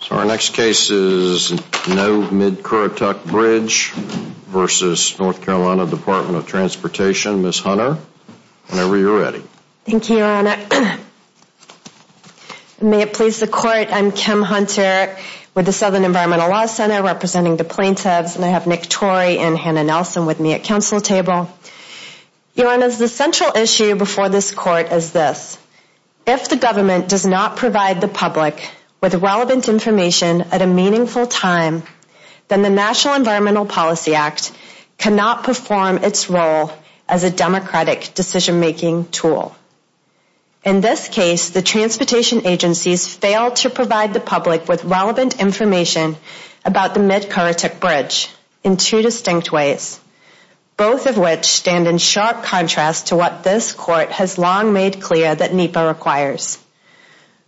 So our next case is No Mid-Currituck Bridge v. North Carolina Department of Transportation. Ms. Hunter, whenever you're ready. Thank you, Your Honor. May it please the Court, I'm Kim Hunter with the Southern Environmental Law Center representing the plaintiffs, and I have Nick Torrey and Hannah Nelson with me at counsel table. Your Honor, the central issue before this Court is this. If the government does not provide the public with relevant information at a meaningful time, then the National Environmental Policy Act cannot perform its role as a democratic decision-making tool. In this case, the transportation agencies failed to provide the public with relevant information about the Mid-Currituck Bridge in two distinct ways, both of which stand in sharp contrast to what this Court has long made clear that NEPA requires.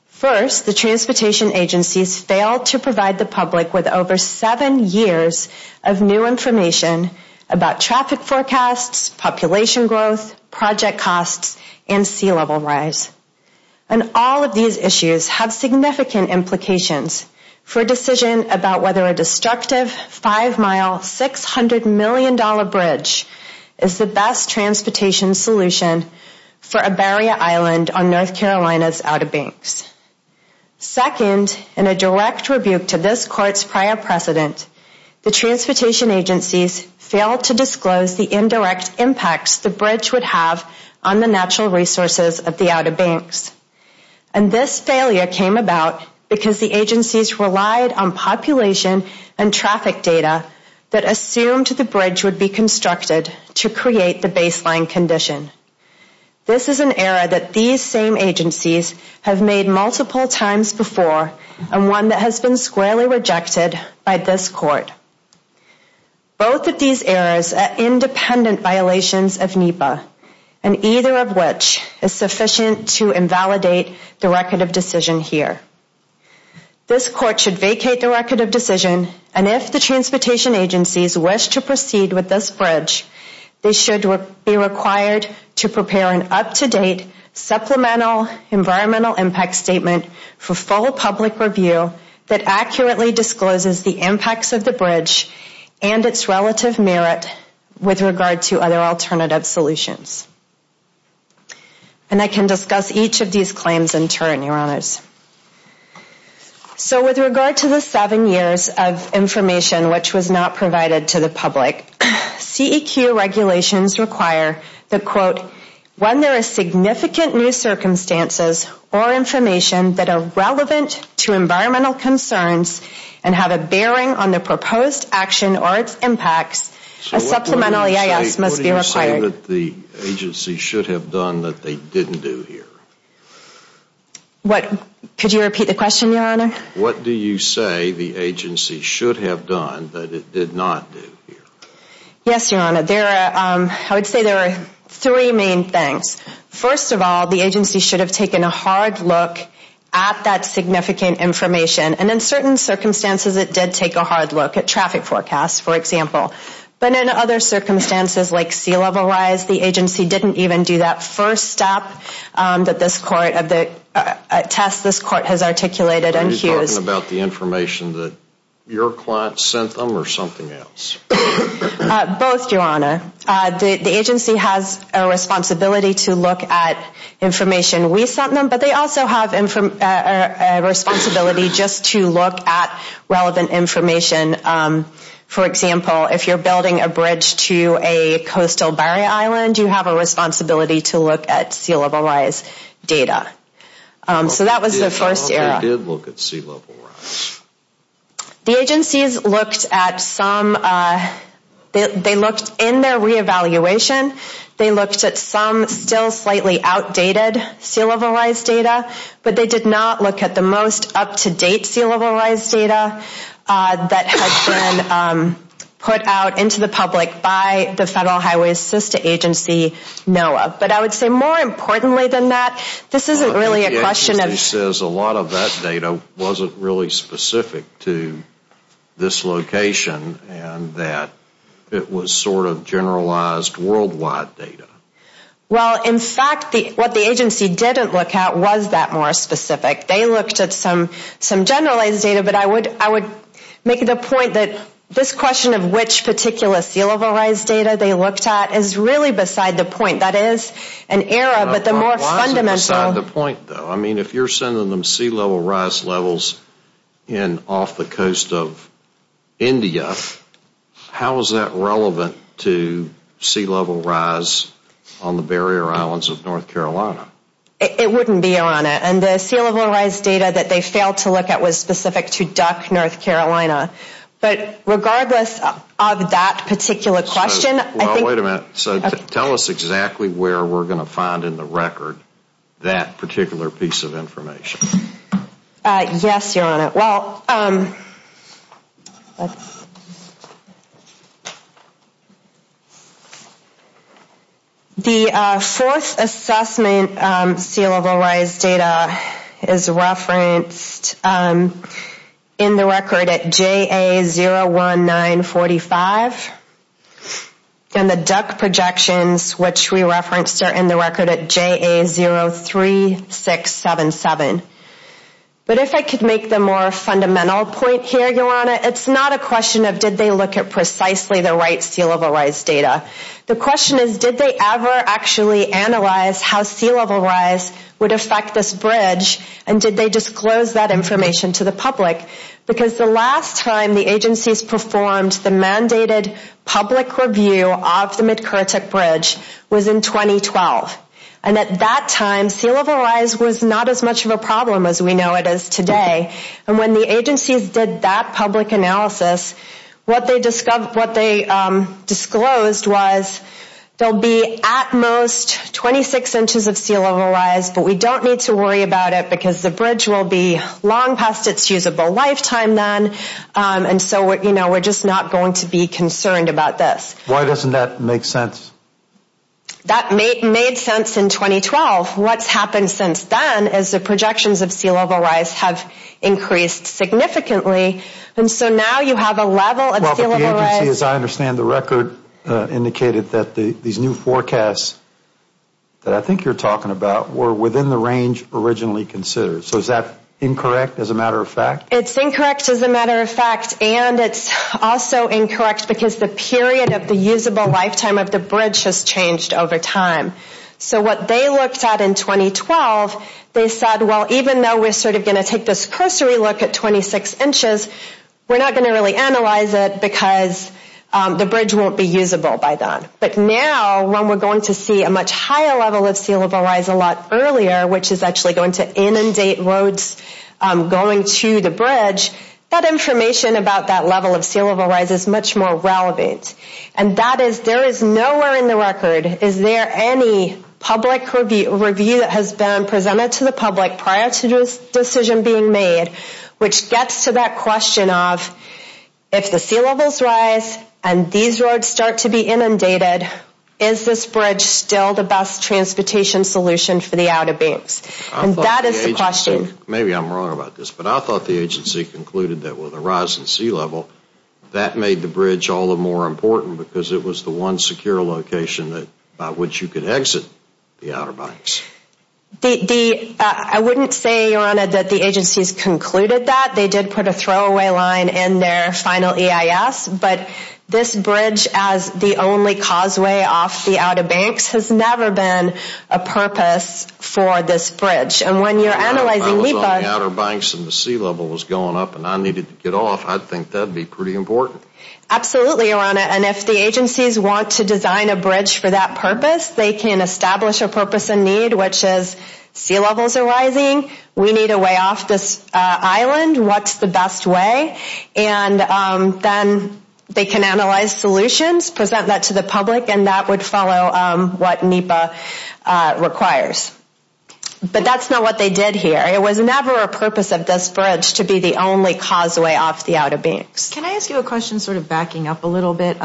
First, the transportation agencies failed to provide the public with over seven years of new information about traffic forecasts, population growth, project costs, and sea level rise. And all of these issues have significant implications for a decision about whether a destructive five-mile, $600 million bridge is the best transportation solution for a barrier island on North Carolina's Outer Banks. Second, in a direct rebuke to this Court's prior precedent, the transportation agencies failed to disclose the indirect impacts the bridge would have on the natural resources of the Outer Banks. And this failure came about because the agencies relied on population and traffic data that assumed the bridge would be constructed to create the baseline condition. This is an error that these same agencies have made multiple times before and one that has been squarely rejected by this Court. Both of these errors are independent violations of NEPA, and either of which is sufficient to invalidate the record of decision here. This Court should vacate the record of decision, and if the transportation agencies wish to proceed with this bridge, they should be required to prepare an up-to-date supplemental environmental impact statement for full public review that accurately discloses the impacts of the bridge and its relative merit with regard to other alternative solutions. And I can discuss each of these claims in turn, Your Honors. So with regard to the seven years of information which was not provided to the public, CEQ regulations require that, quote, when there are significant new circumstances or information that are relevant to environmental concerns and have a bearing on the proposed action or its impacts, a supplemental EIS must be required. So what do you say that the agency should have done that they didn't do here? Could you repeat the question, Your Honor? What do you say the agency should have done that it did not do here? Yes, Your Honor. I would say there are three main things. First of all, the agency should have taken a hard look at that significant information, and in certain circumstances it did take a hard look at traffic forecasts, for example. But in other circumstances like sea level rise, the agency didn't even do that first step that this court of the test this court has articulated and used. Are you talking about the information that your client sent them or something else? Both, Your Honor. The agency has a responsibility to look at information we sent them, but they also have a responsibility just to look at relevant information. For example, if you're building a bridge to a coastal barrier island, you have a responsibility to look at sea level rise data. So that was the first area. They did look at sea level rise. The agencies looked at some, they looked in their reevaluation, they looked at some still slightly outdated sea level rise data, but they did not look at the most up-to-date sea level rise data that had been put out into the public by the Federal Highway Assistance Agency, NOAA. But I would say more importantly than that, this isn't really a question of The agency says a lot of that data wasn't really specific to this location and that it was sort of generalized worldwide data. Well, in fact, what the agency didn't look at was that more specific. They looked at some generalized data, but I would make the point that this question of which particular sea level rise data they looked at is really beside the point. That is an error, but the more fundamental Why is it beside the point, though? I mean, if you're sending them sea level rise levels off the coast of India, how is that relevant to sea level rise on the barrier islands of North Carolina? It wouldn't be on it. And the sea level rise data that they failed to look at was specific to Duck, North Carolina. But regardless of that particular question, I think Wait a minute. So tell us exactly where we're going to find in the record that particular piece of information. Yes, Your Honor. The fourth assessment sea level rise data is referenced in the record at JA01945. And the Duck projections, which we referenced, are in the record at JA03677. But if I could make the more fundamental point here, Your Honor, it's not a question of did they look at precisely the right sea level rise data. The question is did they ever actually analyze how sea level rise would affect this bridge and did they disclose that information to the public? Because the last time the agencies performed the mandated public review of the Midkirtik Bridge was in 2012. And at that time, sea level rise was not as much of a problem as we know it is today. And when the agencies did that public analysis, what they disclosed was there'll be at most 26 inches of sea level rise, but we don't need to worry about it because the bridge will be long past its usable lifetime then. And so, you know, we're just not going to be concerned about this. Why doesn't that make sense? That made sense in 2012. What's happened since then is the projections of sea level rise have increased significantly. And so now you have a level of sea level rise. Well, but the agency, as I understand the record, indicated that these new forecasts that I think you're talking about were within the range originally considered. So is that incorrect as a matter of fact? It's incorrect as a matter of fact. And it's also incorrect because the period of the usable lifetime of the bridge has changed over time. So what they looked at in 2012, they said, well, even though we're sort of going to take this cursory look at 26 inches, we're not going to really analyze it because the bridge won't be usable by then. But now when we're going to see a much higher level of sea level rise a lot earlier, which is actually going to inundate roads going to the bridge, that information about that level of sea level rise is much more relevant. And that is there is nowhere in the record is there any public review that has been presented to the public prior to this decision being made, which gets to that question of if the sea levels rise and these roads start to be inundated, is this bridge still the best transportation solution for the Outer Banks? And that is the question. Maybe I'm wrong about this, but I thought the agency concluded that with a rise in sea level, that made the bridge all the more important because it was the one secure location by which you could exit the Outer Banks. I wouldn't say, Your Honor, that the agencies concluded that. They did put a throwaway line in their final EIS. But this bridge, as the only causeway off the Outer Banks, has never been a purpose for this bridge. And when you're analyzing LEPA... If I was on the Outer Banks and the sea level was going up and I needed to get off, I'd think that would be pretty important. Absolutely, Your Honor. And if the agencies want to design a bridge for that purpose, they can establish a purpose and need, which is sea levels are rising, we need a way off this island, what's the best way? And then they can analyze solutions, present that to the public, and that would follow what NEPA requires. But that's not what they did here. It was never a purpose of this bridge to be the only causeway off the Outer Banks. Can I ask you a question sort of backing up a little bit?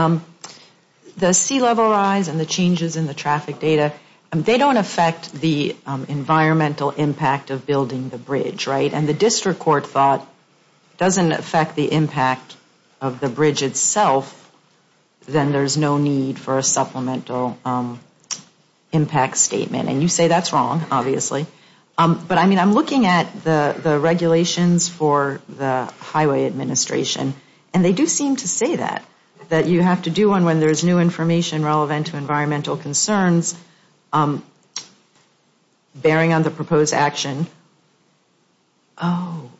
The sea level rise and the changes in the traffic data, they don't affect the environmental impact of building the bridge, right? And the district court thought it doesn't affect the impact of the bridge itself, then there's no need for a supplemental impact statement. And you say that's wrong, obviously. But, I mean, I'm looking at the regulations for the Highway Administration, and they do seem to say that, that you have to do one when there's new information relevant to environmental concerns bearing on the proposed action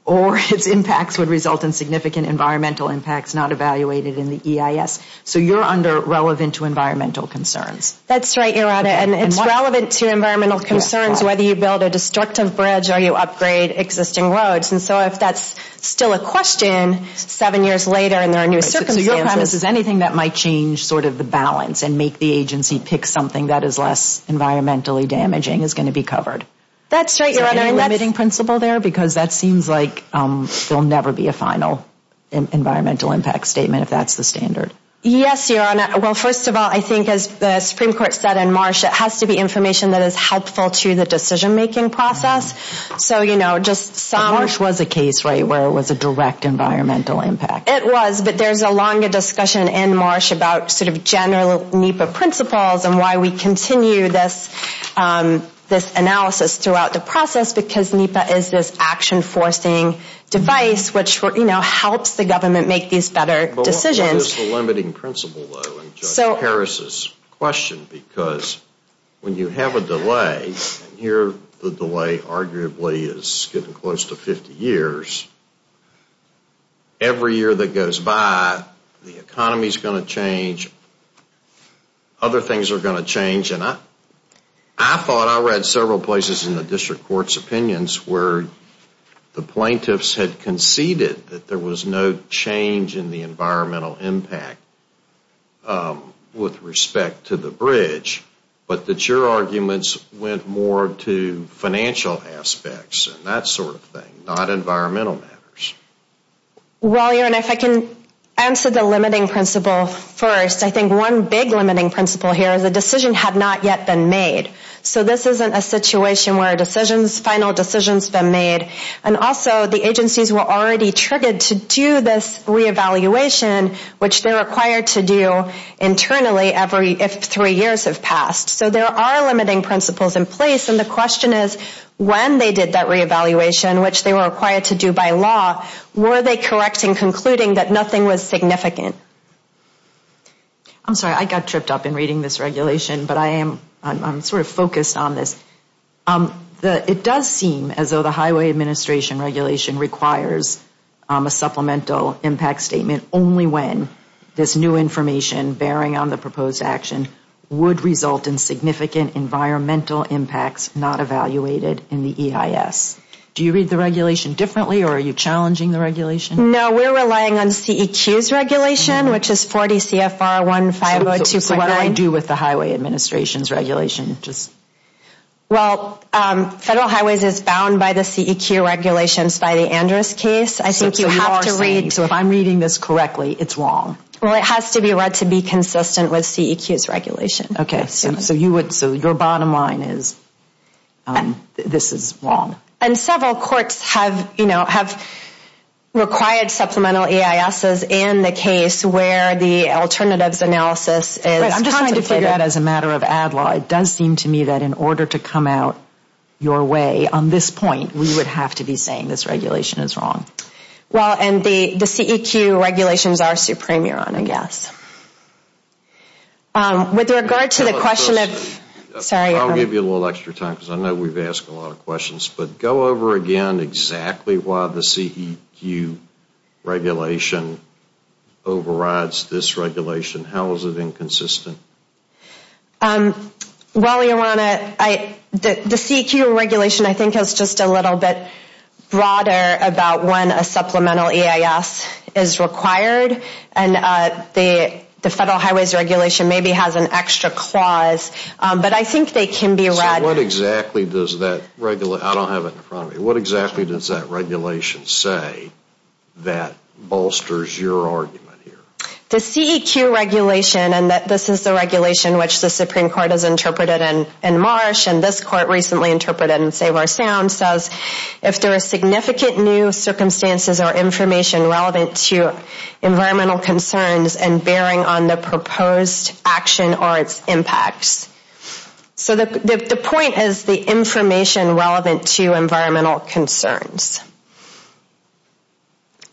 or its impacts would result in significant environmental impacts not evaluated in the EIS. So you're under relevant to environmental concerns. That's right, Your Honor. And it's relevant to environmental concerns whether you build a destructive bridge or you upgrade existing roads. And so if that's still a question seven years later and there are new circumstances. So your premise is anything that might change sort of the balance and make the agency pick something that is less environmentally damaging is going to be covered. That's right, Your Honor. Is there any limiting principle there? Because that seems like there'll never be a final environmental impact statement if that's the standard. Yes, Your Honor. Well, first of all, I think as the Supreme Court said in Marsh, it has to be information that is helpful to the decision-making process. Marsh was a case, right, where it was a direct environmental impact. It was, but there's a longer discussion in Marsh about sort of general NEPA principles and why we continue this analysis throughout the process because NEPA is this action-forcing device which helps the government make these better decisions. What is the limiting principle, though, in Judge Harris's question? Because when you have a delay, and here the delay arguably is getting close to 50 years, every year that goes by the economy is going to change, other things are going to change. And I thought I read several places in the district court's opinions where the plaintiffs had conceded that there was no change in the environmental impact with respect to the bridge, but that your arguments went more to financial aspects and that sort of thing, not environmental matters. Well, Your Honor, if I can answer the limiting principle first, I think one big limiting principle here is a decision had not yet been made. So this isn't a situation where a final decision's been made. And also the agencies were already triggered to do this re-evaluation, which they're required to do internally if three years have passed. So there are limiting principles in place, and the question is, when they did that re-evaluation, which they were required to do by law, were they correct in concluding that nothing was significant? I'm sorry, I got tripped up in reading this regulation, but I'm sort of focused on this. It does seem as though the Highway Administration regulation requires a supplemental impact statement only when this new information bearing on the proposed action would result in significant environmental impacts not evaluated in the EIS. Do you read the regulation differently, or are you challenging the regulation? No, we're relying on CEQ's regulation, which is 40 CFR 1502.9. What do I do with the Highway Administration's regulation? Well, Federal Highways is bound by the CEQ regulations by the Andrus case. So if I'm reading this correctly, it's wrong? Well, it has to be read to be consistent with CEQ's regulation. Okay, so your bottom line is this is wrong? And several courts have required supplemental EISs in the case where the alternatives analysis is… I'm just trying to figure that out as a matter of ad law. It does seem to me that in order to come out your way on this point, we would have to be saying this regulation is wrong. Well, and the CEQ regulations are supreme, your Honor, yes. With regard to the question of… I'll give you a little extra time because I know we've asked a lot of questions, but go over again exactly why the CEQ regulation overrides this regulation. How is it inconsistent? Well, your Honor, the CEQ regulation, I think, is just a little bit broader about when a supplemental EIS is required and the Federal Highways regulation maybe has an extra clause, but I think they can be read… So what exactly does that… I don't have it in front of me. What exactly does that regulation say that bolsters your argument here? The CEQ regulation, and this is the regulation which the Supreme Court has interpreted in Marsh and this court recently interpreted in Save Our Sound, says if there are significant new circumstances or information relevant to environmental concerns and bearing on the proposed action or its impacts. So the point is the information relevant to environmental concerns.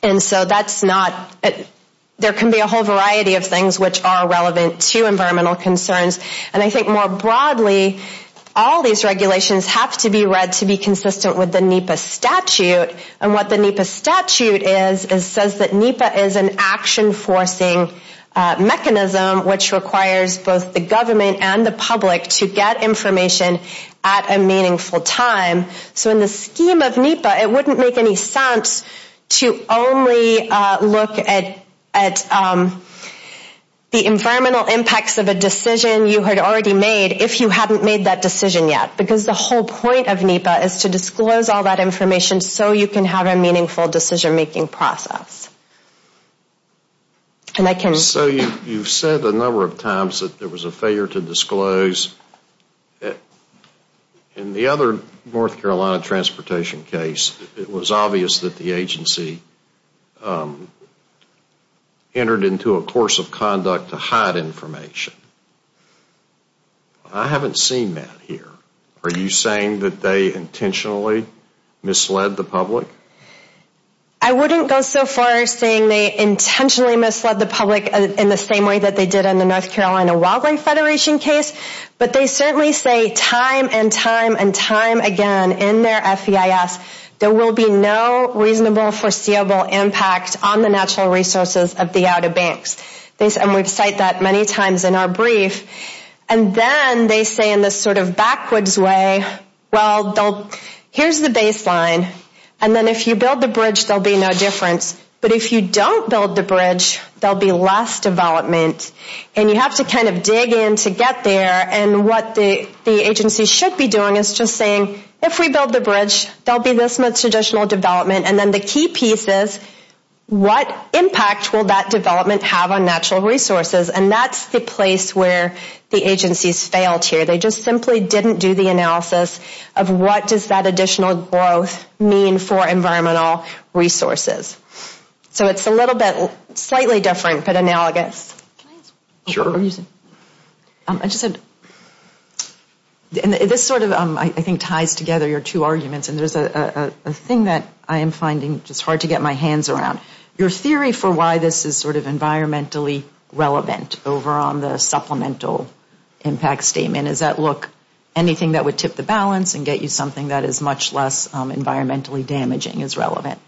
And so that's not… There can be a whole variety of things which are relevant to environmental concerns, and I think more broadly all these regulations have to be read to be consistent with the NEPA statute, and what the NEPA statute says is that NEPA is an action-forcing mechanism which requires both the government and the public to get information at a meaningful time. So in the scheme of NEPA, it wouldn't make any sense to only look at the environmental impacts of a decision you had already made if you hadn't made that decision yet, because the whole point of NEPA is to disclose all that information so you can have a meaningful decision-making process. So you've said a number of times that there was a failure to disclose. In the other North Carolina transportation case, it was obvious that the agency entered into a course of conduct to hide information. I haven't seen that here. Are you saying that they intentionally misled the public? I wouldn't go so far as saying they intentionally misled the public in the same way that they did in the North Carolina Wildlife Federation case, but they certainly say time and time and time again in their FEIS there will be no reasonable foreseeable impact on the natural resources of the Outer Banks. And we've cited that many times in our brief. And then they say in this sort of backwards way, well, here's the baseline, and then if you build the bridge, there'll be no difference. But if you don't build the bridge, there'll be less development, and you have to kind of dig in to get there. And what the agency should be doing is just saying, if we build the bridge, there'll be this much additional development. And then the key piece is, what impact will that development have on natural resources? And that's the place where the agency's failed here. They just simply didn't do the analysis of what does that additional growth mean for environmental resources. So it's a little bit, slightly different, but analogous. Can I ask a question? Sure. I just had, this sort of, I think, ties together your two arguments, and there's a thing that I am finding just hard to get my hands around. Your theory for why this is sort of environmentally relevant over on the supplemental impact statement, is that, look, anything that would tip the balance and get you something that is much less environmentally damaging is relevant.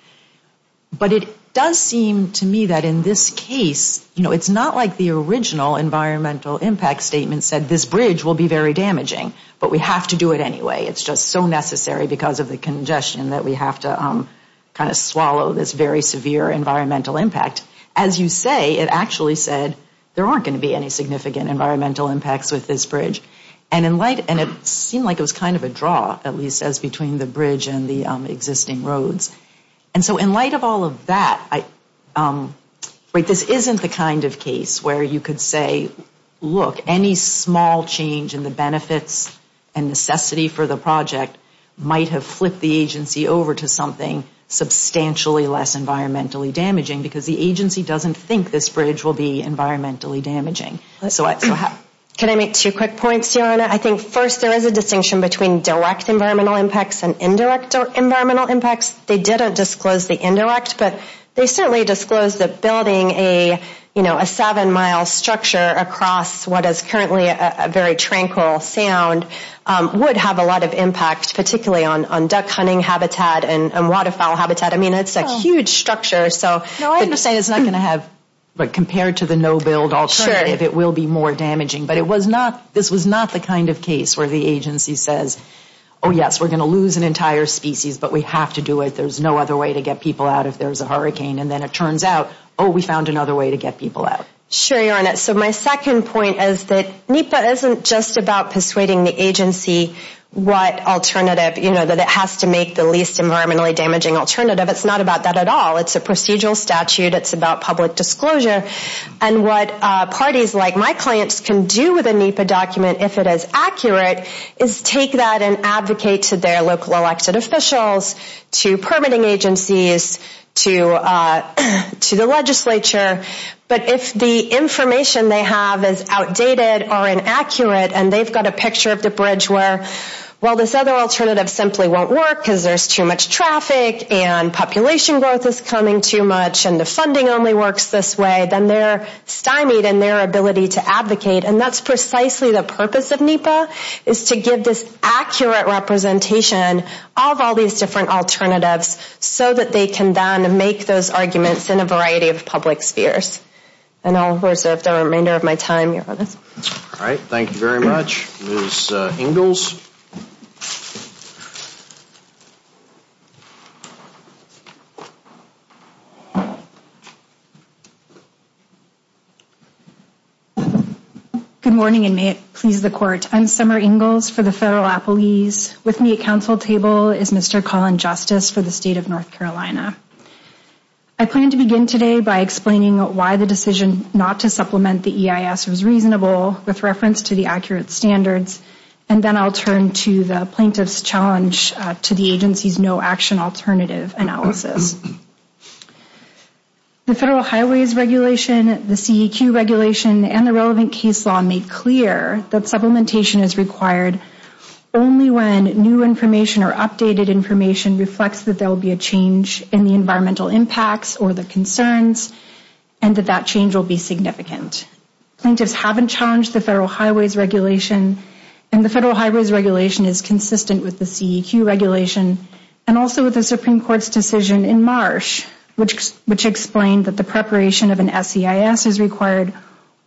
But it does seem to me that in this case, it's not like the original environmental impact statement said, this bridge will be very damaging, but we have to do it anyway. It's just so necessary because of the congestion that we have to kind of swallow this very severe environmental impact. As you say, it actually said, there aren't going to be any significant environmental impacts with this bridge. And it seemed like it was kind of a draw, at least as between the bridge and the existing roads. And so in light of all of that, this isn't the kind of case where you could say, look, any small change in the benefits and necessity for the project might have flipped the agency over to something substantially less environmentally damaging because the agency doesn't think this bridge will be environmentally damaging. Can I make two quick points, Joanna? I think first, there is a distinction between direct environmental impacts and indirect environmental impacts. They didn't disclose the indirect, but they certainly disclosed that building a seven-mile structure across what is currently a very tranquil sound would have a lot of impact, particularly on duck hunting habitat and waterfowl habitat. I mean, it's a huge structure. No, I understand it's not going to have, but compared to the no-build alternative, it will be more damaging. But this was not the kind of case where the agency says, oh, yes, we're going to lose an entire species, but we have to do it. There's no other way to get people out if there's a hurricane. And then it turns out, oh, we found another way to get people out. Sure, Your Honor. So my second point is that NEPA isn't just about persuading the agency what alternative, you know, that it has to make the least environmentally damaging alternative. It's not about that at all. It's a procedural statute. It's about public disclosure. And what parties like my clients can do with a NEPA document, if it is accurate, is take that and advocate to their local elected officials, to permitting agencies, to the legislature. But if the information they have is outdated or inaccurate, and they've got a picture of the bridge where, well, this other alternative simply won't work because there's too much traffic and population growth is coming too much and the funding only works this way, then they're stymied in their ability to advocate. And that's precisely the purpose of NEPA, is to give this accurate representation of all these different alternatives so that they can then make those arguments in a variety of public spheres. And I'll reserve the remainder of my time, Your Honor. All right. Thank you very much. Ms. Ingalls. Good morning, and may it please the Court. I'm Summer Ingalls for the Federal Appellees. With me at counsel table is Mr. Colin Justice for the State of North Carolina. I plan to begin today by explaining why the decision not to supplement the EIS was reasonable with reference to the accurate standards, and then I'll turn to the plaintiff's challenge to the agency's no action alternative analysis. The Federal Highways Regulation, the CEQ Regulation, and the relevant case law make clear that supplementation is required only when new information or updated information reflects that there will be a change in the environmental impacts or the concerns and that that change will be significant. Plaintiffs haven't challenged the Federal Highways Regulation, and the Federal Highways Regulation is consistent with the CEQ Regulation and also with the Supreme Court's decision in March, which explained that the preparation of an SEIS is required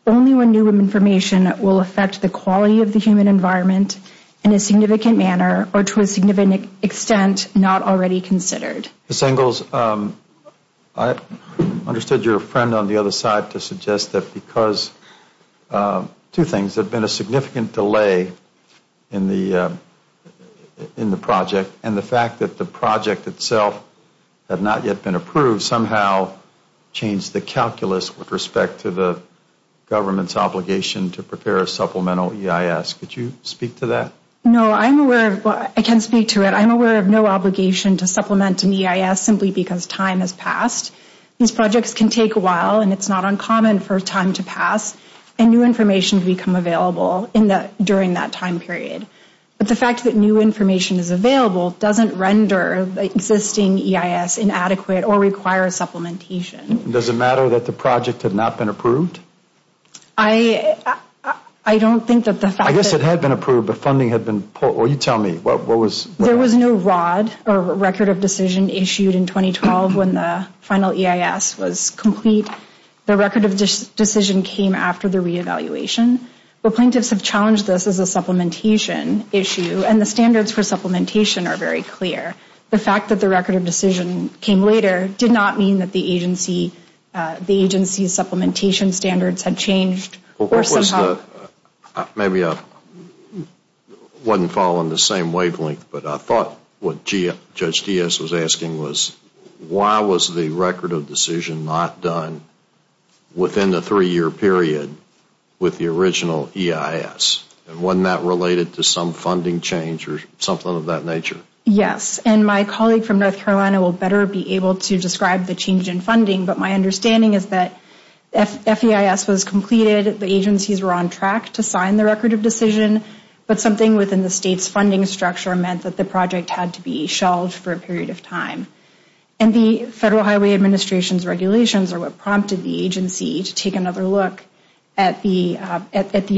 only when new information will affect the quality of the human environment in a significant manner or to a significant extent not already considered. Ms. Ingalls, I understood your friend on the other side to suggest that because two things. There had been a significant delay in the project, and the fact that the project itself had not yet been approved somehow changed the calculus with respect to the government's obligation to prepare a supplemental EIS. Could you speak to that? No, I can speak to it. I'm aware of no obligation to supplement an EIS simply because time has passed. These projects can take a while, and it's not uncommon for time to pass, and new information can become available during that time period. But the fact that new information is available doesn't render the existing EIS inadequate or require supplementation. Does it matter that the project had not been approved? I don't think that the fact that it had been approved but funding had been poor. You tell me. There was no ROD, or Record of Decision, issued in 2012 when the final EIS was complete. The Record of Decision came after the re-evaluation. The plaintiffs have challenged this as a supplementation issue, and the standards for supplementation are very clear. The fact that the Record of Decision came later did not mean that the agency's supplementation standards had changed, or somehow. Maybe I wasn't following the same wavelength, but I thought what Judge Diaz was asking was, why was the Record of Decision not done within the three-year period with the original EIS? And wasn't that related to some funding change or something of that nature? Yes, and my colleague from North Carolina will better be able to describe the change in funding, but my understanding is that FEIS was completed, the agencies were on track to sign the Record of Decision, but something within the state's funding structure meant that the project had to be shelved for a period of time. And the Federal Highway Administration's regulations are what prompted the agency to take another look at the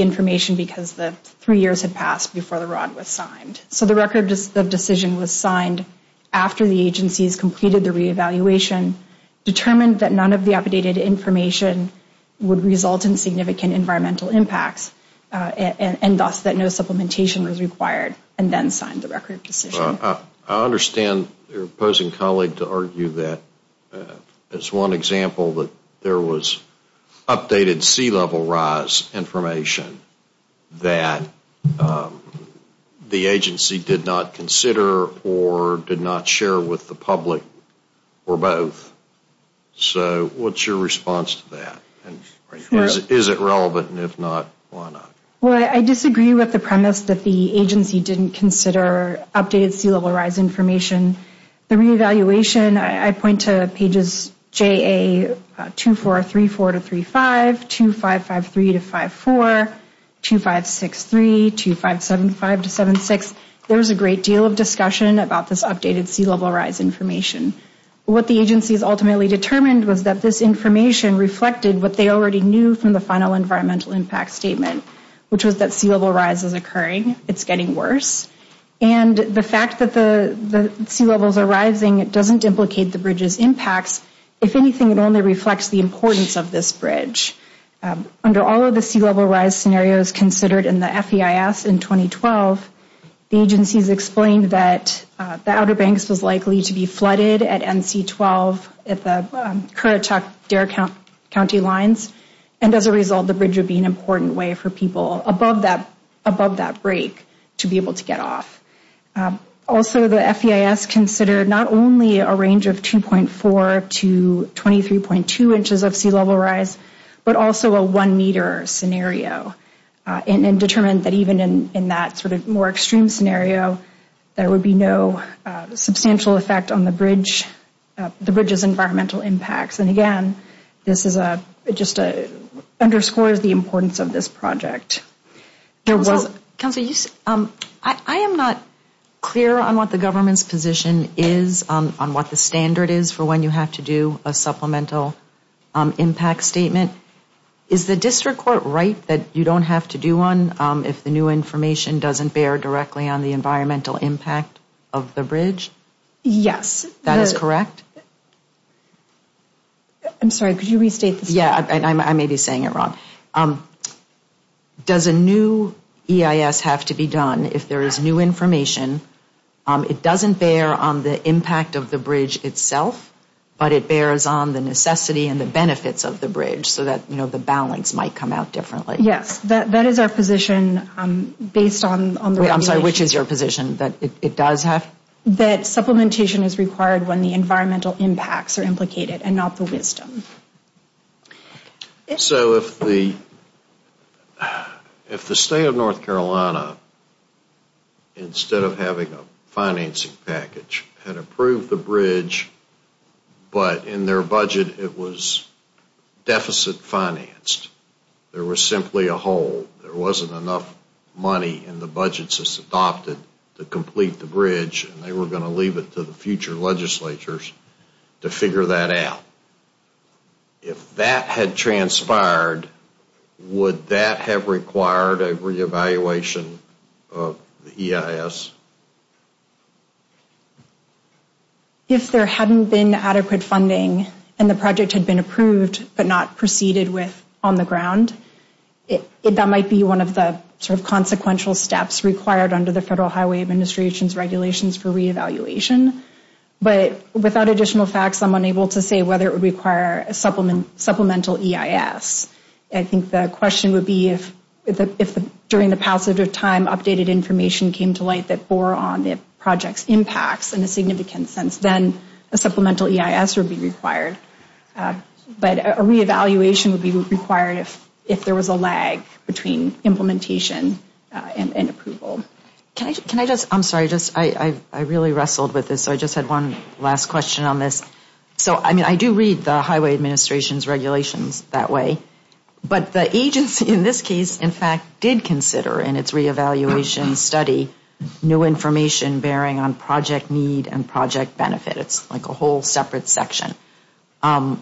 information because the three years had passed before the ROD was signed. So the Record of Decision was signed after the agencies completed the re-evaluation, determined that none of the updated information would result in significant environmental impacts, and thus that no supplementation was required, and then signed the Record of Decision. I understand your opposing colleague to argue that, as one example, that there was updated sea level rise information that the agency did not consider or did not share with the public, or both. So what's your response to that? Is it relevant, and if not, why not? Well, I disagree with the premise that the agency didn't consider updated sea level rise information. The re-evaluation, I point to pages JA2434-35, 2553-54, 2563, 2575-76. There was a great deal of discussion about this updated sea level rise information. What the agencies ultimately determined was that this information reflected what they already knew from the final environmental impact statement, which was that sea level rise is occurring. It's getting worse. And the fact that the sea levels are rising doesn't implicate the bridge's impacts. If anything, it only reflects the importance of this bridge. Under all of the sea level rise scenarios considered in the FEIS in 2012, the agencies explained that the Outer Banks was likely to be flooded at NC-12 at the Currituck-Dare County lines, and as a result, the bridge would be an important way for people above that break to be able to get off. Also, the FEIS considered not only a range of 2.4 to 23.2 inches of sea level rise, but also a 1 meter scenario, and determined that even in that sort of more extreme scenario, there would be no substantial effect on the bridge's environmental impacts. And again, this just underscores the importance of this project. I am not clear on what the government's position is on what the standard is for when you have to do a supplemental impact statement. Is the district court right that you don't have to do one if the new information doesn't bear directly on the environmental impact of the bridge? Yes. That is correct? I'm sorry, could you restate the statement? I may be saying it wrong. Does a new EIS have to be done if there is new information? It doesn't bear on the impact of the bridge itself, but it bears on the necessity and the benefits of the bridge so that the balance might come out differently. Yes, that is our position based on the regulations. I'm sorry, which is your position, that it does have? That supplementation is required when the environmental impacts are implicated and not the wisdom. So if the state of North Carolina, instead of having a financing package, had approved the bridge, but in their budget it was deficit financed, there was simply a hole, there wasn't enough money in the budgets to complete the bridge and they were going to leave it to the future legislatures to figure that out. If that had transpired, would that have required a reevaluation of the EIS? If there hadn't been adequate funding and the project had been approved but not proceeded with on the ground, that might be one of the consequential steps required under the Federal Highway Administration's regulations for reevaluation. But without additional facts, I'm unable to say whether it would require a supplemental EIS. I think the question would be if during the passage of time, updated information came to light that bore on the project's impacts in a significant sense, then a supplemental EIS would be required. But a reevaluation would be required if there was a lag between implementation and approval. Can I just, I'm sorry, I really wrestled with this, so I just had one last question on this. So I do read the Highway Administration's regulations that way, but the agency in this case, in fact, did consider in its reevaluation study new information bearing on project need and project benefit. It's like a whole separate section. So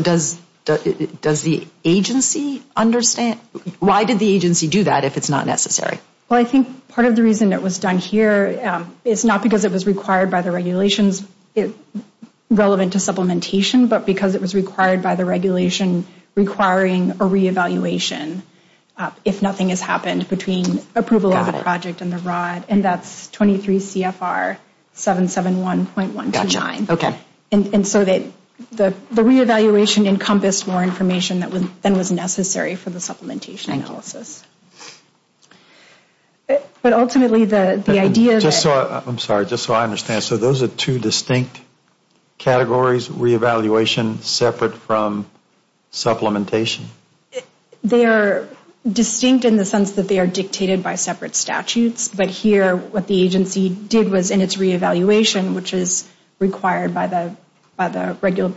does the agency understand? Why did the agency do that if it's not necessary? Well, I think part of the reason it was done here is not because it was required by the regulations relevant to supplementation, but because it was required by the regulation requiring a reevaluation if nothing has happened between approval of the project and the ROD. And that's 23 CFR 771.129. And so the reevaluation encompassed more information than was necessary for the supplementation analysis. But ultimately the idea that... I'm sorry, just so I understand, so those are two distinct categories, reevaluation separate from supplementation? They are distinct in the sense that they are dictated by separate statutes, but here what the agency did was in its reevaluation, which is required by the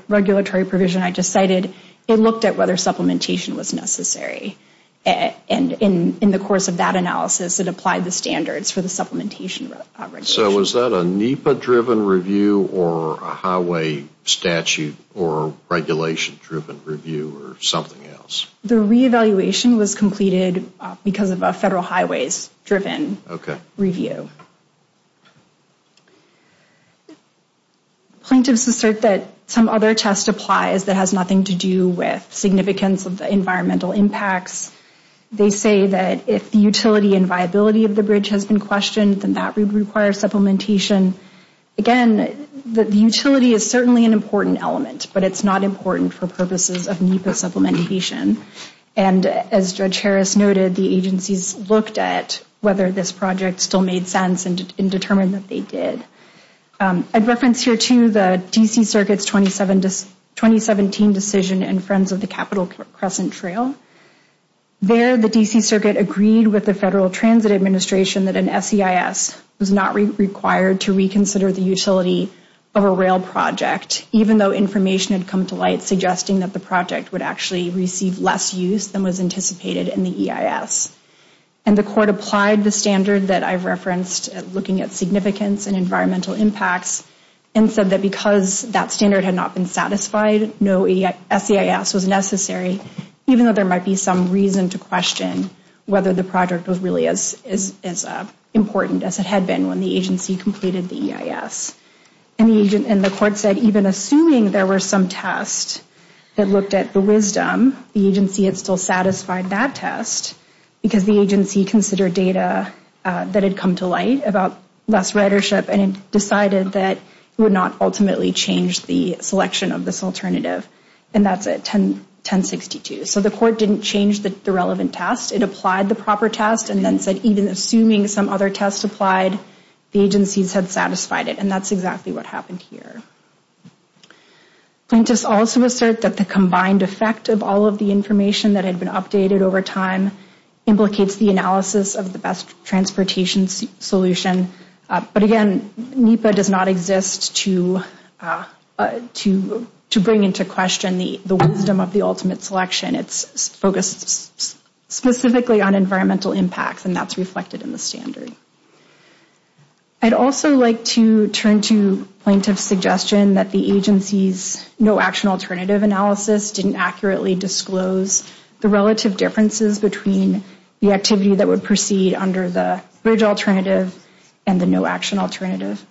regulatory provision I just cited, it looked at whether supplementation was necessary. And in the course of that analysis, it applied the standards for the supplementation regulation. So was that a NEPA-driven review or a highway statute or regulation-driven review or something else? The reevaluation was completed because of a federal highways-driven review. Plaintiffs assert that some other test applies that has nothing to do with significance of the environmental impacts. They say that if the utility and viability of the bridge has been questioned, then that would require supplementation. Again, the utility is certainly an important element, but it's not important for purposes of NEPA supplementation. And as Judge Harris noted, the agencies looked at whether this project still made sense and determined that they did. I'd reference here, too, the D.C. Circuit's 2017 decision in Friends of the Capitol Crescent Trail. There the D.C. Circuit agreed with the Federal Transit Administration that an SEIS was not required to reconsider the utility of a rail project, even though information had come to light suggesting that the project would actually receive less use than was anticipated in the EIS. And the court applied the standard that I've referenced, looking at significance and environmental impacts, and said that because that standard had not been satisfied, no SEIS was necessary, even though there might be some reason to question whether the project was really as important as it had been when the agency completed the EIS. And the court said even assuming there were some tests that looked at the wisdom, the agency had still satisfied that test because the agency considered data that had come to light about less ridership and decided that it would not ultimately change the selection of this alternative. And that's at 1062. So the court didn't change the relevant test. It applied the proper test and then said even assuming some other tests applied, the agencies had satisfied it. And that's exactly what happened here. Plaintiffs also assert that the combined effect of all of the information that had been updated over time implicates the analysis of the best transportation solution. But again, NEPA does not exist to bring into question the wisdom of the ultimate selection. It's focused specifically on environmental impacts, and that's reflected in the standard. I'd also like to turn to plaintiff's suggestion that the agency's no action alternative analysis didn't accurately disclose the relative differences between the activity that would proceed under the bridge alternative and the no action alternative.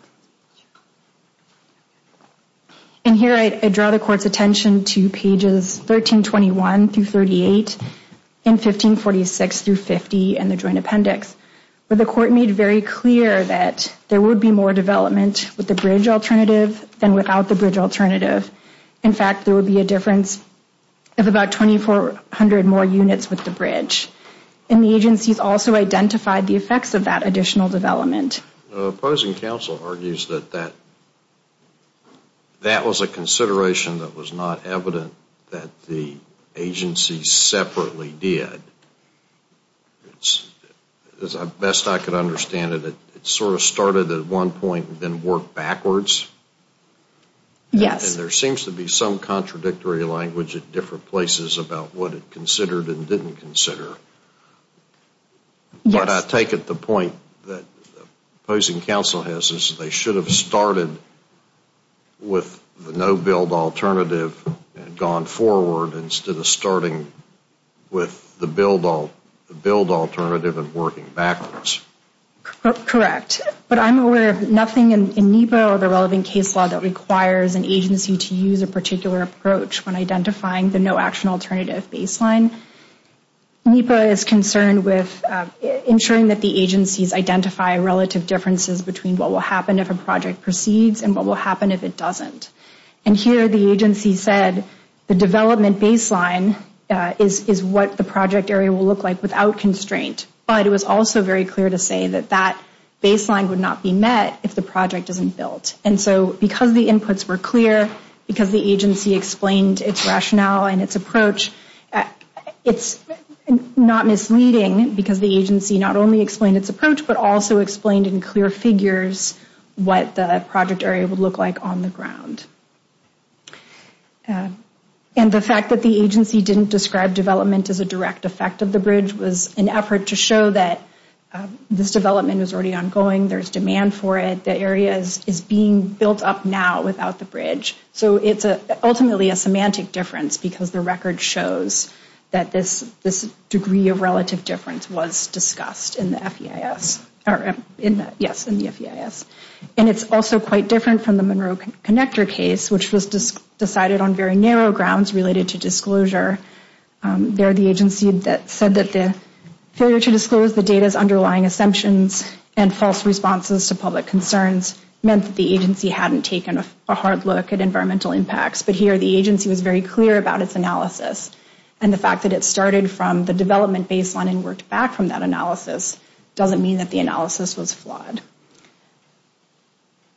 And here I draw the court's attention to pages 1321 through 38 and 1546 through 50 in the joint appendix where the court made very clear that there would be more development with the bridge alternative than without the bridge alternative. In fact, there would be a difference of about 2,400 more units with the bridge. And the agencies also identified the effects of that additional development. The opposing counsel argues that that was a consideration that was not evident that the agencies separately did. As best I could understand it, it sort of started at one point and then worked backwards. Yes. And there seems to be some contradictory language at different places about what it considered and didn't consider. Yes. But I take it the point that the opposing counsel has is they should have started with the no build alternative and gone forward instead of starting with the build alternative and working backwards. Correct. But I'm aware of nothing in NEPA or the relevant case law that requires an agency to use a particular approach when identifying the no action alternative baseline. NEPA is concerned with ensuring that the agencies identify relative differences between what will happen if a project proceeds and what will happen if it doesn't. And here the agency said the development baseline is what the project area will look like without constraint. But it was also very clear to say that that baseline would not be met if the project isn't built. And so because the inputs were clear, because the agency explained its rationale and its approach, it's not misleading because the agency not only explained its rationale, but it also figures what the project area would look like on the ground. And the fact that the agency didn't describe development as a direct effect of the bridge was an effort to show that this development was already ongoing. There's demand for it. The area is being built up now without the bridge. So it's ultimately a semantic difference because the record shows that this degree of relative difference was discussed in the FEIS. And it's also quite different from the Monroe Connector case, which was decided on very narrow grounds related to disclosure. There the agency said that the failure to disclose the data's underlying assumptions and false responses to public concerns meant that the agency hadn't taken a hard look at environmental impacts. But here the agency was very clear about its analysis and the fact that it started from the development baseline and worked back from that analysis doesn't mean that the analysis was flawed.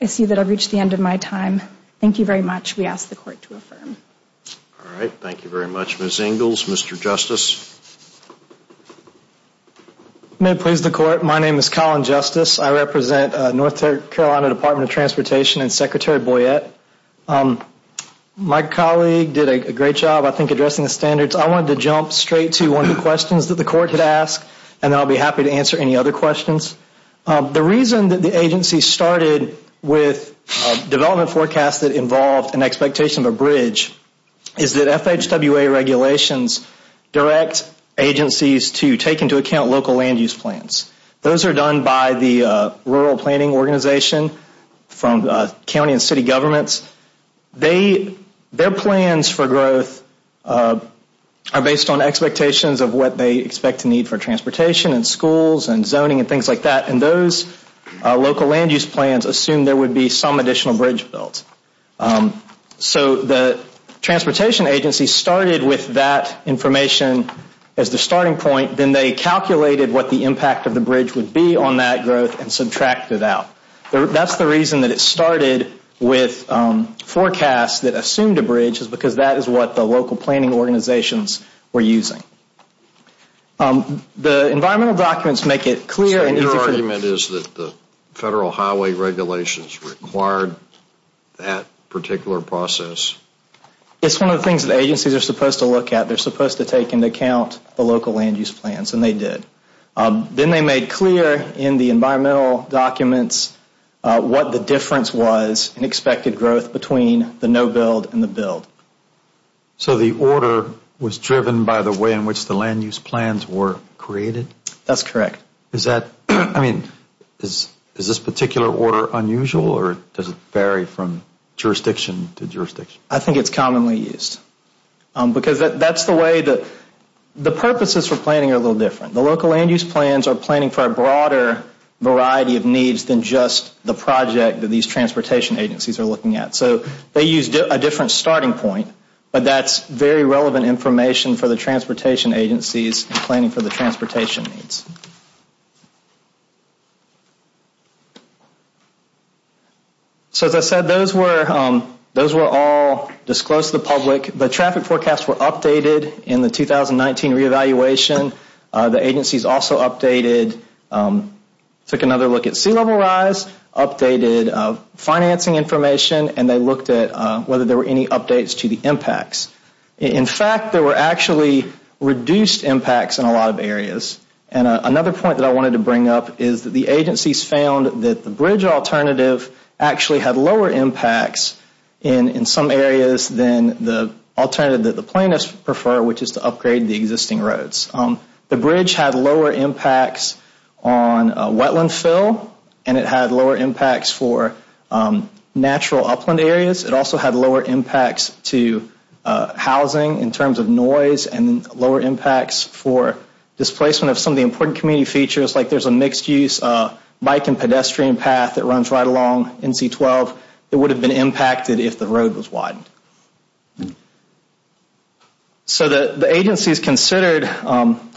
I see that I've reached the end of my time. Thank you very much. We ask the Court to affirm. All right. Thank you very much. Ms. Ingalls, Mr. Justice. May it please the Court, my name is Colin Justice. I represent North Carolina Department of Transportation and Secretary Boyette. My colleague did a great job, I think, addressing the standards. I wanted to jump straight to one of the questions that the Court had asked and then I'll be happy to answer any other questions. The reason that the agency started with development forecasts that involved an expectation of a bridge is that FHWA regulations direct agencies to take into account local land use plans. Those are done by the Rural Planning Organization from county and city governments. Their plans for growth are based on expectations of what they expect to need for transportation and schools and zoning and things like that, and those local land use plans assume there would be some additional bridge built. So the transportation agency started with that information as the starting point, then they calculated what the impact of the bridge would be on that growth and subtracted out. That's the reason that it started with forecasts that assumed a bridge is because that is what the local planning organizations were using. The environmental documents make it clear. So your argument is that the Federal Highway Regulations required that particular process? It's one of the things that agencies are supposed to look at. They're supposed to take into account the local land use plans, and they did. Then they made clear in the environmental documents what the difference was in expected growth between the no-build and the build. So the order was driven by the way in which the land use plans were created? That's correct. Is that, I mean, is this particular order unusual or does it vary from jurisdiction to jurisdiction? I think it's commonly used because that's the way the purposes for planning are a little different. The local land use plans are planning for a broader variety of needs than just the project that these transportation agencies are looking at. So they used a different starting point, but that's very relevant information for the transportation agencies planning for the transportation needs. So as I said, those were all disclosed to the public. The traffic forecasts were updated in the 2019 re-evaluation. The agencies also updated, took another look at sea level rise, updated financing information, and they looked at whether there were any updates to the impacts. In fact, there were actually reduced impacts in a lot of areas. And another point that I wanted to bring up is that the agencies found that the bridge alternative actually had lower impacts in some areas than the alternative that the plaintiffs prefer, which is to upgrade the existing roads. The bridge had lower impacts on wetland fill, and it had lower impacts for natural upland areas. It also had lower impacts to housing in terms of noise and lower impacts for displacement of some of the important community features, like there's a mixed-use bike and pedestrian path that runs right along NC-12 that would have been impacted if the road was widened. So the agencies considered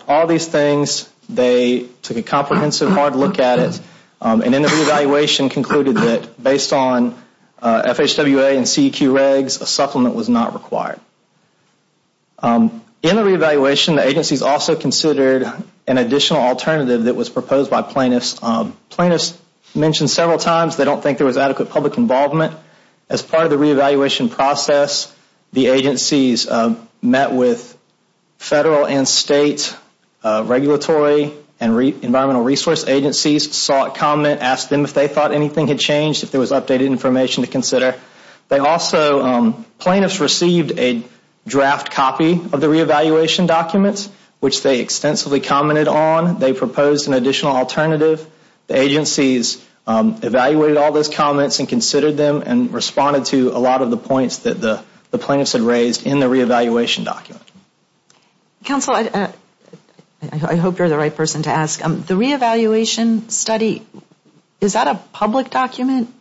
all these things. They took a comprehensive, hard look at it, and in the re-evaluation concluded that based on FHWA and CEQ regs, a supplement was not required. In the re-evaluation, the agencies also considered an additional alternative that was proposed by plaintiffs. Plaintiffs mentioned several times they don't think there was adequate public involvement. As part of the re-evaluation process, the agencies met with federal and state regulatory and environmental resource agencies, sought comment, asked them if they thought anything had changed, if there was updated information to consider. They also, plaintiffs received a draft copy of the re-evaluation documents, which they extensively commented on. They proposed an additional alternative. The agencies evaluated all those comments and considered them and responded to a lot of the points that the plaintiffs had raised in the re-evaluation document. Counsel, I hope you're the right person to ask. The re-evaluation study, is that a public document?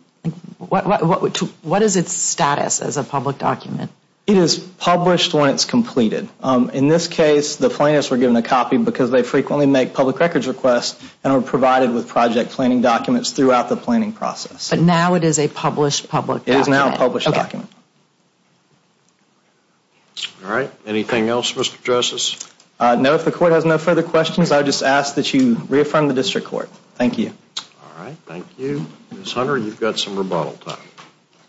What is its status as a public document? It is published when it's completed. In this case, the plaintiffs were given a copy because they frequently make public records requests and are provided with project planning documents throughout the planning process. But now it is a published public document. It is now a published document. All right. Anything else, Mr. Joses? No. If the court has no further questions, I would just ask that you reaffirm the district court. Thank you. All right. Thank you. Ms. Hunter, you've got some rebuttal time.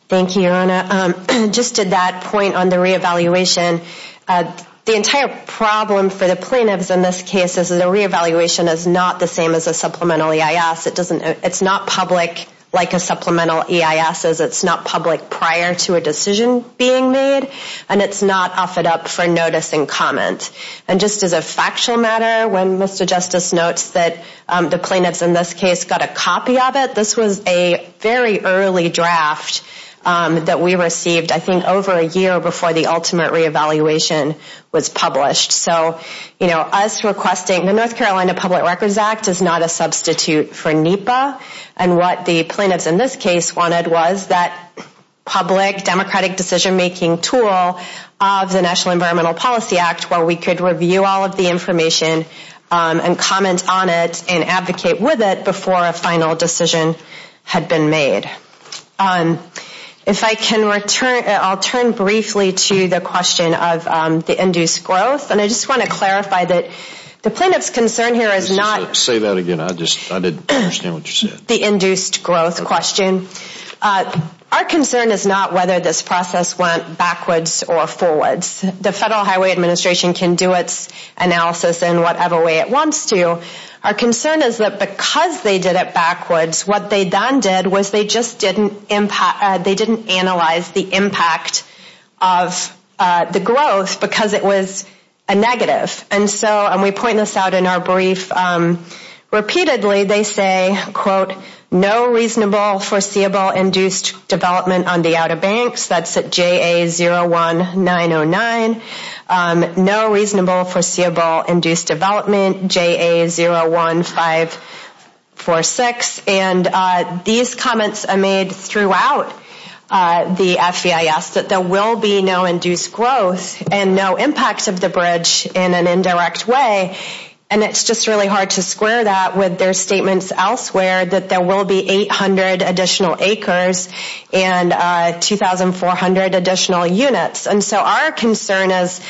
Thank you, Your Honor. Just to that point on the re-evaluation, the entire problem for the plaintiffs in this case is the re-evaluation is not the same as a supplemental EIS. It's not public like a supplemental EIS is. It's not public prior to a decision being made, and it's not offered up for notice and comment. And just as a factual matter, when Mr. Justice notes that the plaintiffs in this case got a copy of it, this was a very early draft that we received, I think over a year before the ultimate re-evaluation was published. So, you know, us requesting the North Carolina Public Records Act is not a substitute for NEPA. And what the plaintiffs in this case wanted was that public democratic decision-making tool of the National Environmental Policy Act where we could review all of the information and comment on it and advocate with it before a final decision had been made. If I can return, I'll turn briefly to the question of the induced growth. And I just want to clarify that the plaintiff's concern here is not. Say that again. I just, I didn't understand what you said. The induced growth question. Our concern is not whether this process went backwards or forwards. The Federal Highway Administration can do its analysis in whatever way it wants to. Our concern is that because they did it backwards, what they then did was they just didn't impact, they didn't analyze the impact of the growth because it was a negative. And so, and we point this out in our brief repeatedly, they say, quote, no reasonable foreseeable induced development on the Outer Banks. That's at JA01909. No reasonable foreseeable induced development, JA01546. And these comments are made throughout the FEIS that there will be no induced growth and no impact of the bridge in an indirect way. And it's just really hard to square that with their statements elsewhere that there will be 800 additional acres and 2,400 additional units. And so our concern is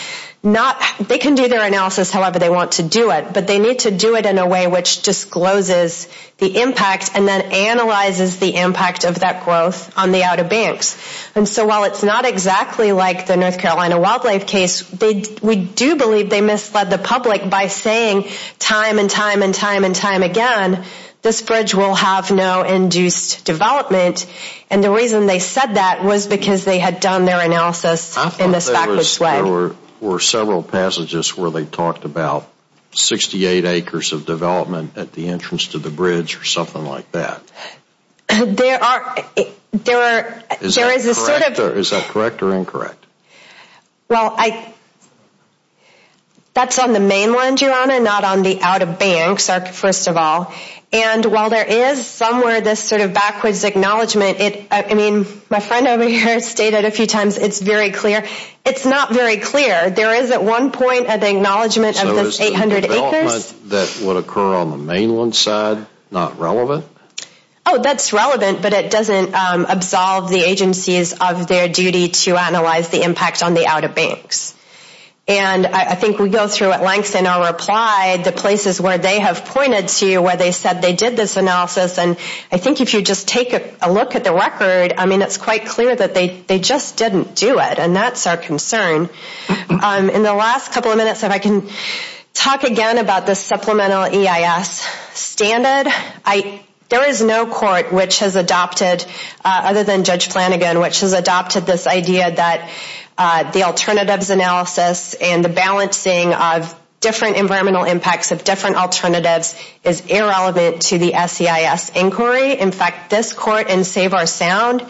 not, they can do their analysis however they want to do it, but they need to do it in a way which discloses the impact and then analyzes the impact of that growth on the Outer Banks. And so while it's not exactly like the North Carolina wildlife case, we do believe they misled the public by saying time and time and time and time again, this bridge will have no induced development. And the reason they said that was because they had done their analysis in this backwards way. I thought there were several passages where they talked about 68 acres of development at the entrance to the bridge or something like that. There are, there is a sort of. Is that correct or incorrect? Well, that's on the mainland, Your Honor, not on the Outer Banks, first of all. And while there is somewhere this sort of backwards acknowledgement, I mean, my friend over here stated a few times it's very clear. It's not very clear. There is at one point an acknowledgement of this 800 acres. So is the development that would occur on the mainland side not relevant? Oh, that's relevant, but it doesn't absolve the agencies of their duty to analyze the impact on the Outer Banks. And I think we go through at length in our reply the places where they have pointed to where they said they did this analysis. And I think if you just take a look at the record, I mean, it's quite clear that they just didn't do it. And that's our concern. In the last couple of minutes, if I can talk again about the supplemental EIS standard, there is no court which has adopted, other than Judge Flanagan, which has adopted this idea that the alternatives analysis and the balancing of different environmental impacts of different alternatives is irrelevant to the SEIS inquiry. In fact, this court in Save Our Sound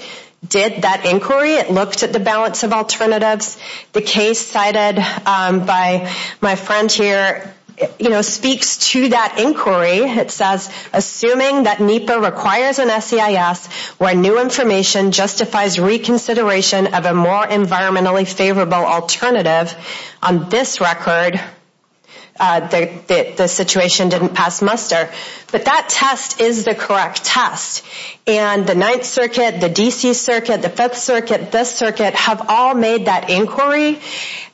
did that inquiry. It looked at the balance of alternatives. The case cited by my friend here speaks to that inquiry. It says, assuming that NEPA requires an SEIS where new information justifies reconsideration of a more environmentally favorable alternative, on this record, the situation didn't pass muster. But that test is the correct test. And the Ninth Circuit, the D.C. Circuit, the Fifth Circuit, this circuit have all made that inquiry.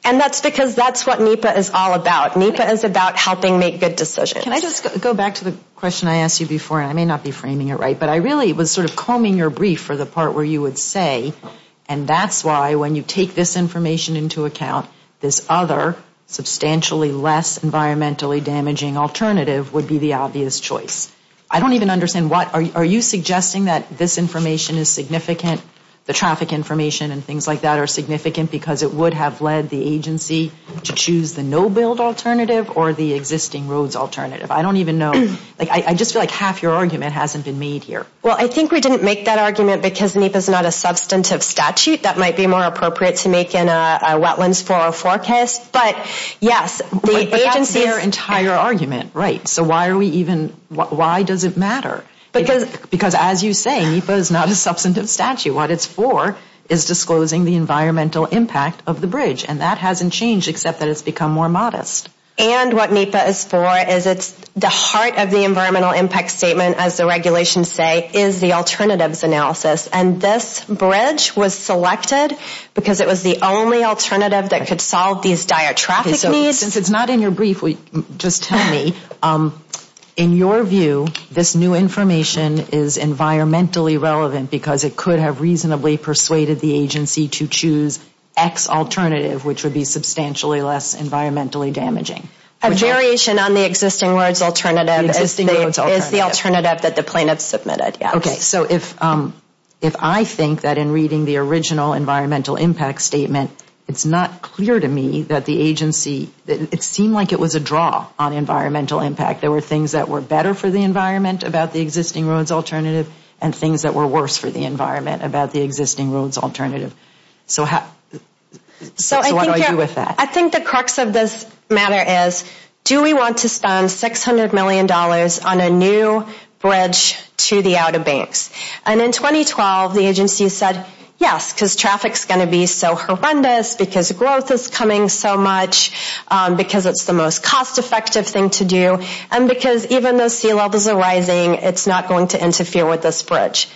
And that's because that's what NEPA is all about. NEPA is about helping make good decisions. Can I just go back to the question I asked you before, and I may not be framing it right, but I really was sort of combing your brief for the part where you would say, and that's why when you take this information into account, this other substantially less environmentally damaging alternative would be the obvious choice. I don't even understand what, are you suggesting that this information is significant, the traffic information and things like that are significant because it would have led the agency to choose the no-build alternative or the existing roads alternative? I don't even know. I just feel like half your argument hasn't been made here. Well, I think we didn't make that argument because NEPA is not a substantive statute. That might be more appropriate to make in a wetlands 404 case. But, yes, the agency is. But that's their entire argument. Right. So why are we even, why does it matter? Because as you say, NEPA is not a substantive statute. What it's for is disclosing the environmental impact of the bridge. And that hasn't changed except that it's become more modest. And what NEPA is for is it's the heart of the environmental impact statement, as the regulations say, is the alternatives analysis. And this bridge was selected because it was the only alternative that could solve these dire traffic needs. Since it's not in your brief, just tell me, in your view, this new information is environmentally relevant because it could have reasonably persuaded the agency to choose X alternative, which would be substantially less environmentally damaging. A variation on the existing roads alternative is the alternative that the plaintiffs submitted, yes. Okay, so if I think that in reading the original environmental impact statement, it's not clear to me that the agency, it seemed like it was a draw on environmental impact. There were things that were better for the environment about the existing roads alternative and things that were worse for the environment about the existing roads alternative. So what do I do with that? I think the crux of this matter is do we want to spend $600 million on a new bridge to the out of banks? And in 2012, the agency said, yes, because traffic's going to be so horrendous, because growth is coming so much, because it's the most cost effective thing to do, and because even though sea levels are rising, it's not going to interfere with this bridge.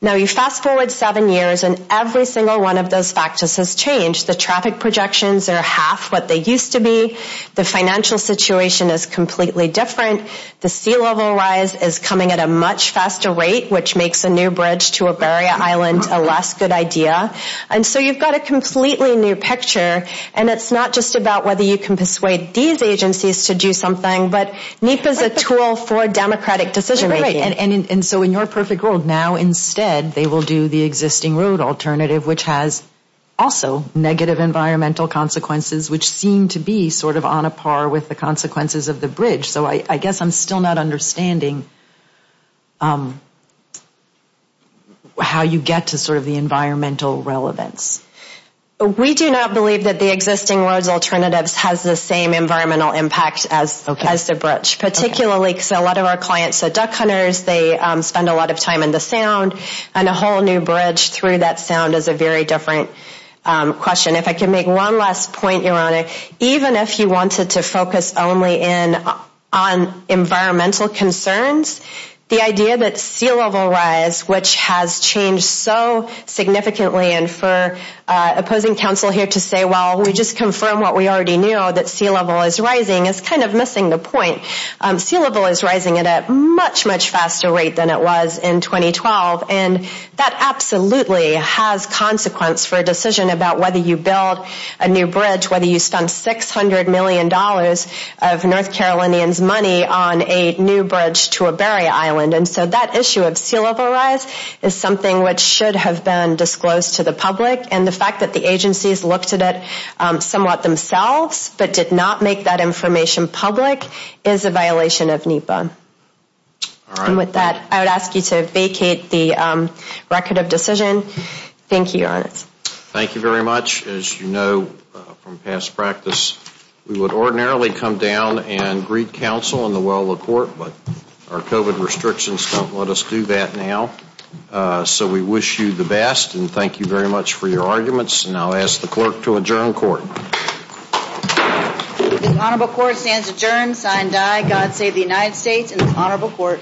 Now you fast forward seven years and every single one of those factors has changed. The traffic projections are half what they used to be. The financial situation is completely different. The sea level rise is coming at a much faster rate, which makes a new bridge to a barrier island a less good idea. And so you've got a completely new picture, and it's not just about whether you can persuade these agencies to do something, but NEPA's a tool for democratic decision making. And so in your perfect world, now instead they will do the existing road alternative, which has also negative environmental consequences, which seem to be sort of on a par with the consequences of the bridge. So I guess I'm still not understanding how you get to sort of the environmental relevance. We do not believe that the existing roads alternatives has the same environmental impact as the bridge, particularly because a lot of our clients are duck hunters. They spend a lot of time in the sound, and a whole new bridge through that sound is a very different question. If I can make one last point, Your Honor, even if you wanted to focus only on environmental concerns, the idea that sea level rise, which has changed so significantly, and for opposing counsel here to say, well, we just confirmed what we already knew, that sea level is rising, is kind of missing the point. Sea level is rising at a much, much faster rate than it was in 2012, and that absolutely has consequence for a decision about whether you build a new bridge, whether you spend $600 million of North Carolinians' money on a new bridge to a barrier island. And so that issue of sea level rise is something which should have been disclosed to the public, and the fact that the agencies looked at it somewhat themselves, but did not make that information public, is a violation of NEPA. And with that, I would ask you to vacate the record of decision. Thank you, Your Honor. Thank you very much. As you know from past practice, we would ordinarily come down and greet counsel in the well of court, but our COVID restrictions don't let us do that now. So we wish you the best, and thank you very much for your arguments, and I'll ask the clerk to adjourn court. The Honorable Court stands adjourned, sign die, God save the United States and the Honorable Court.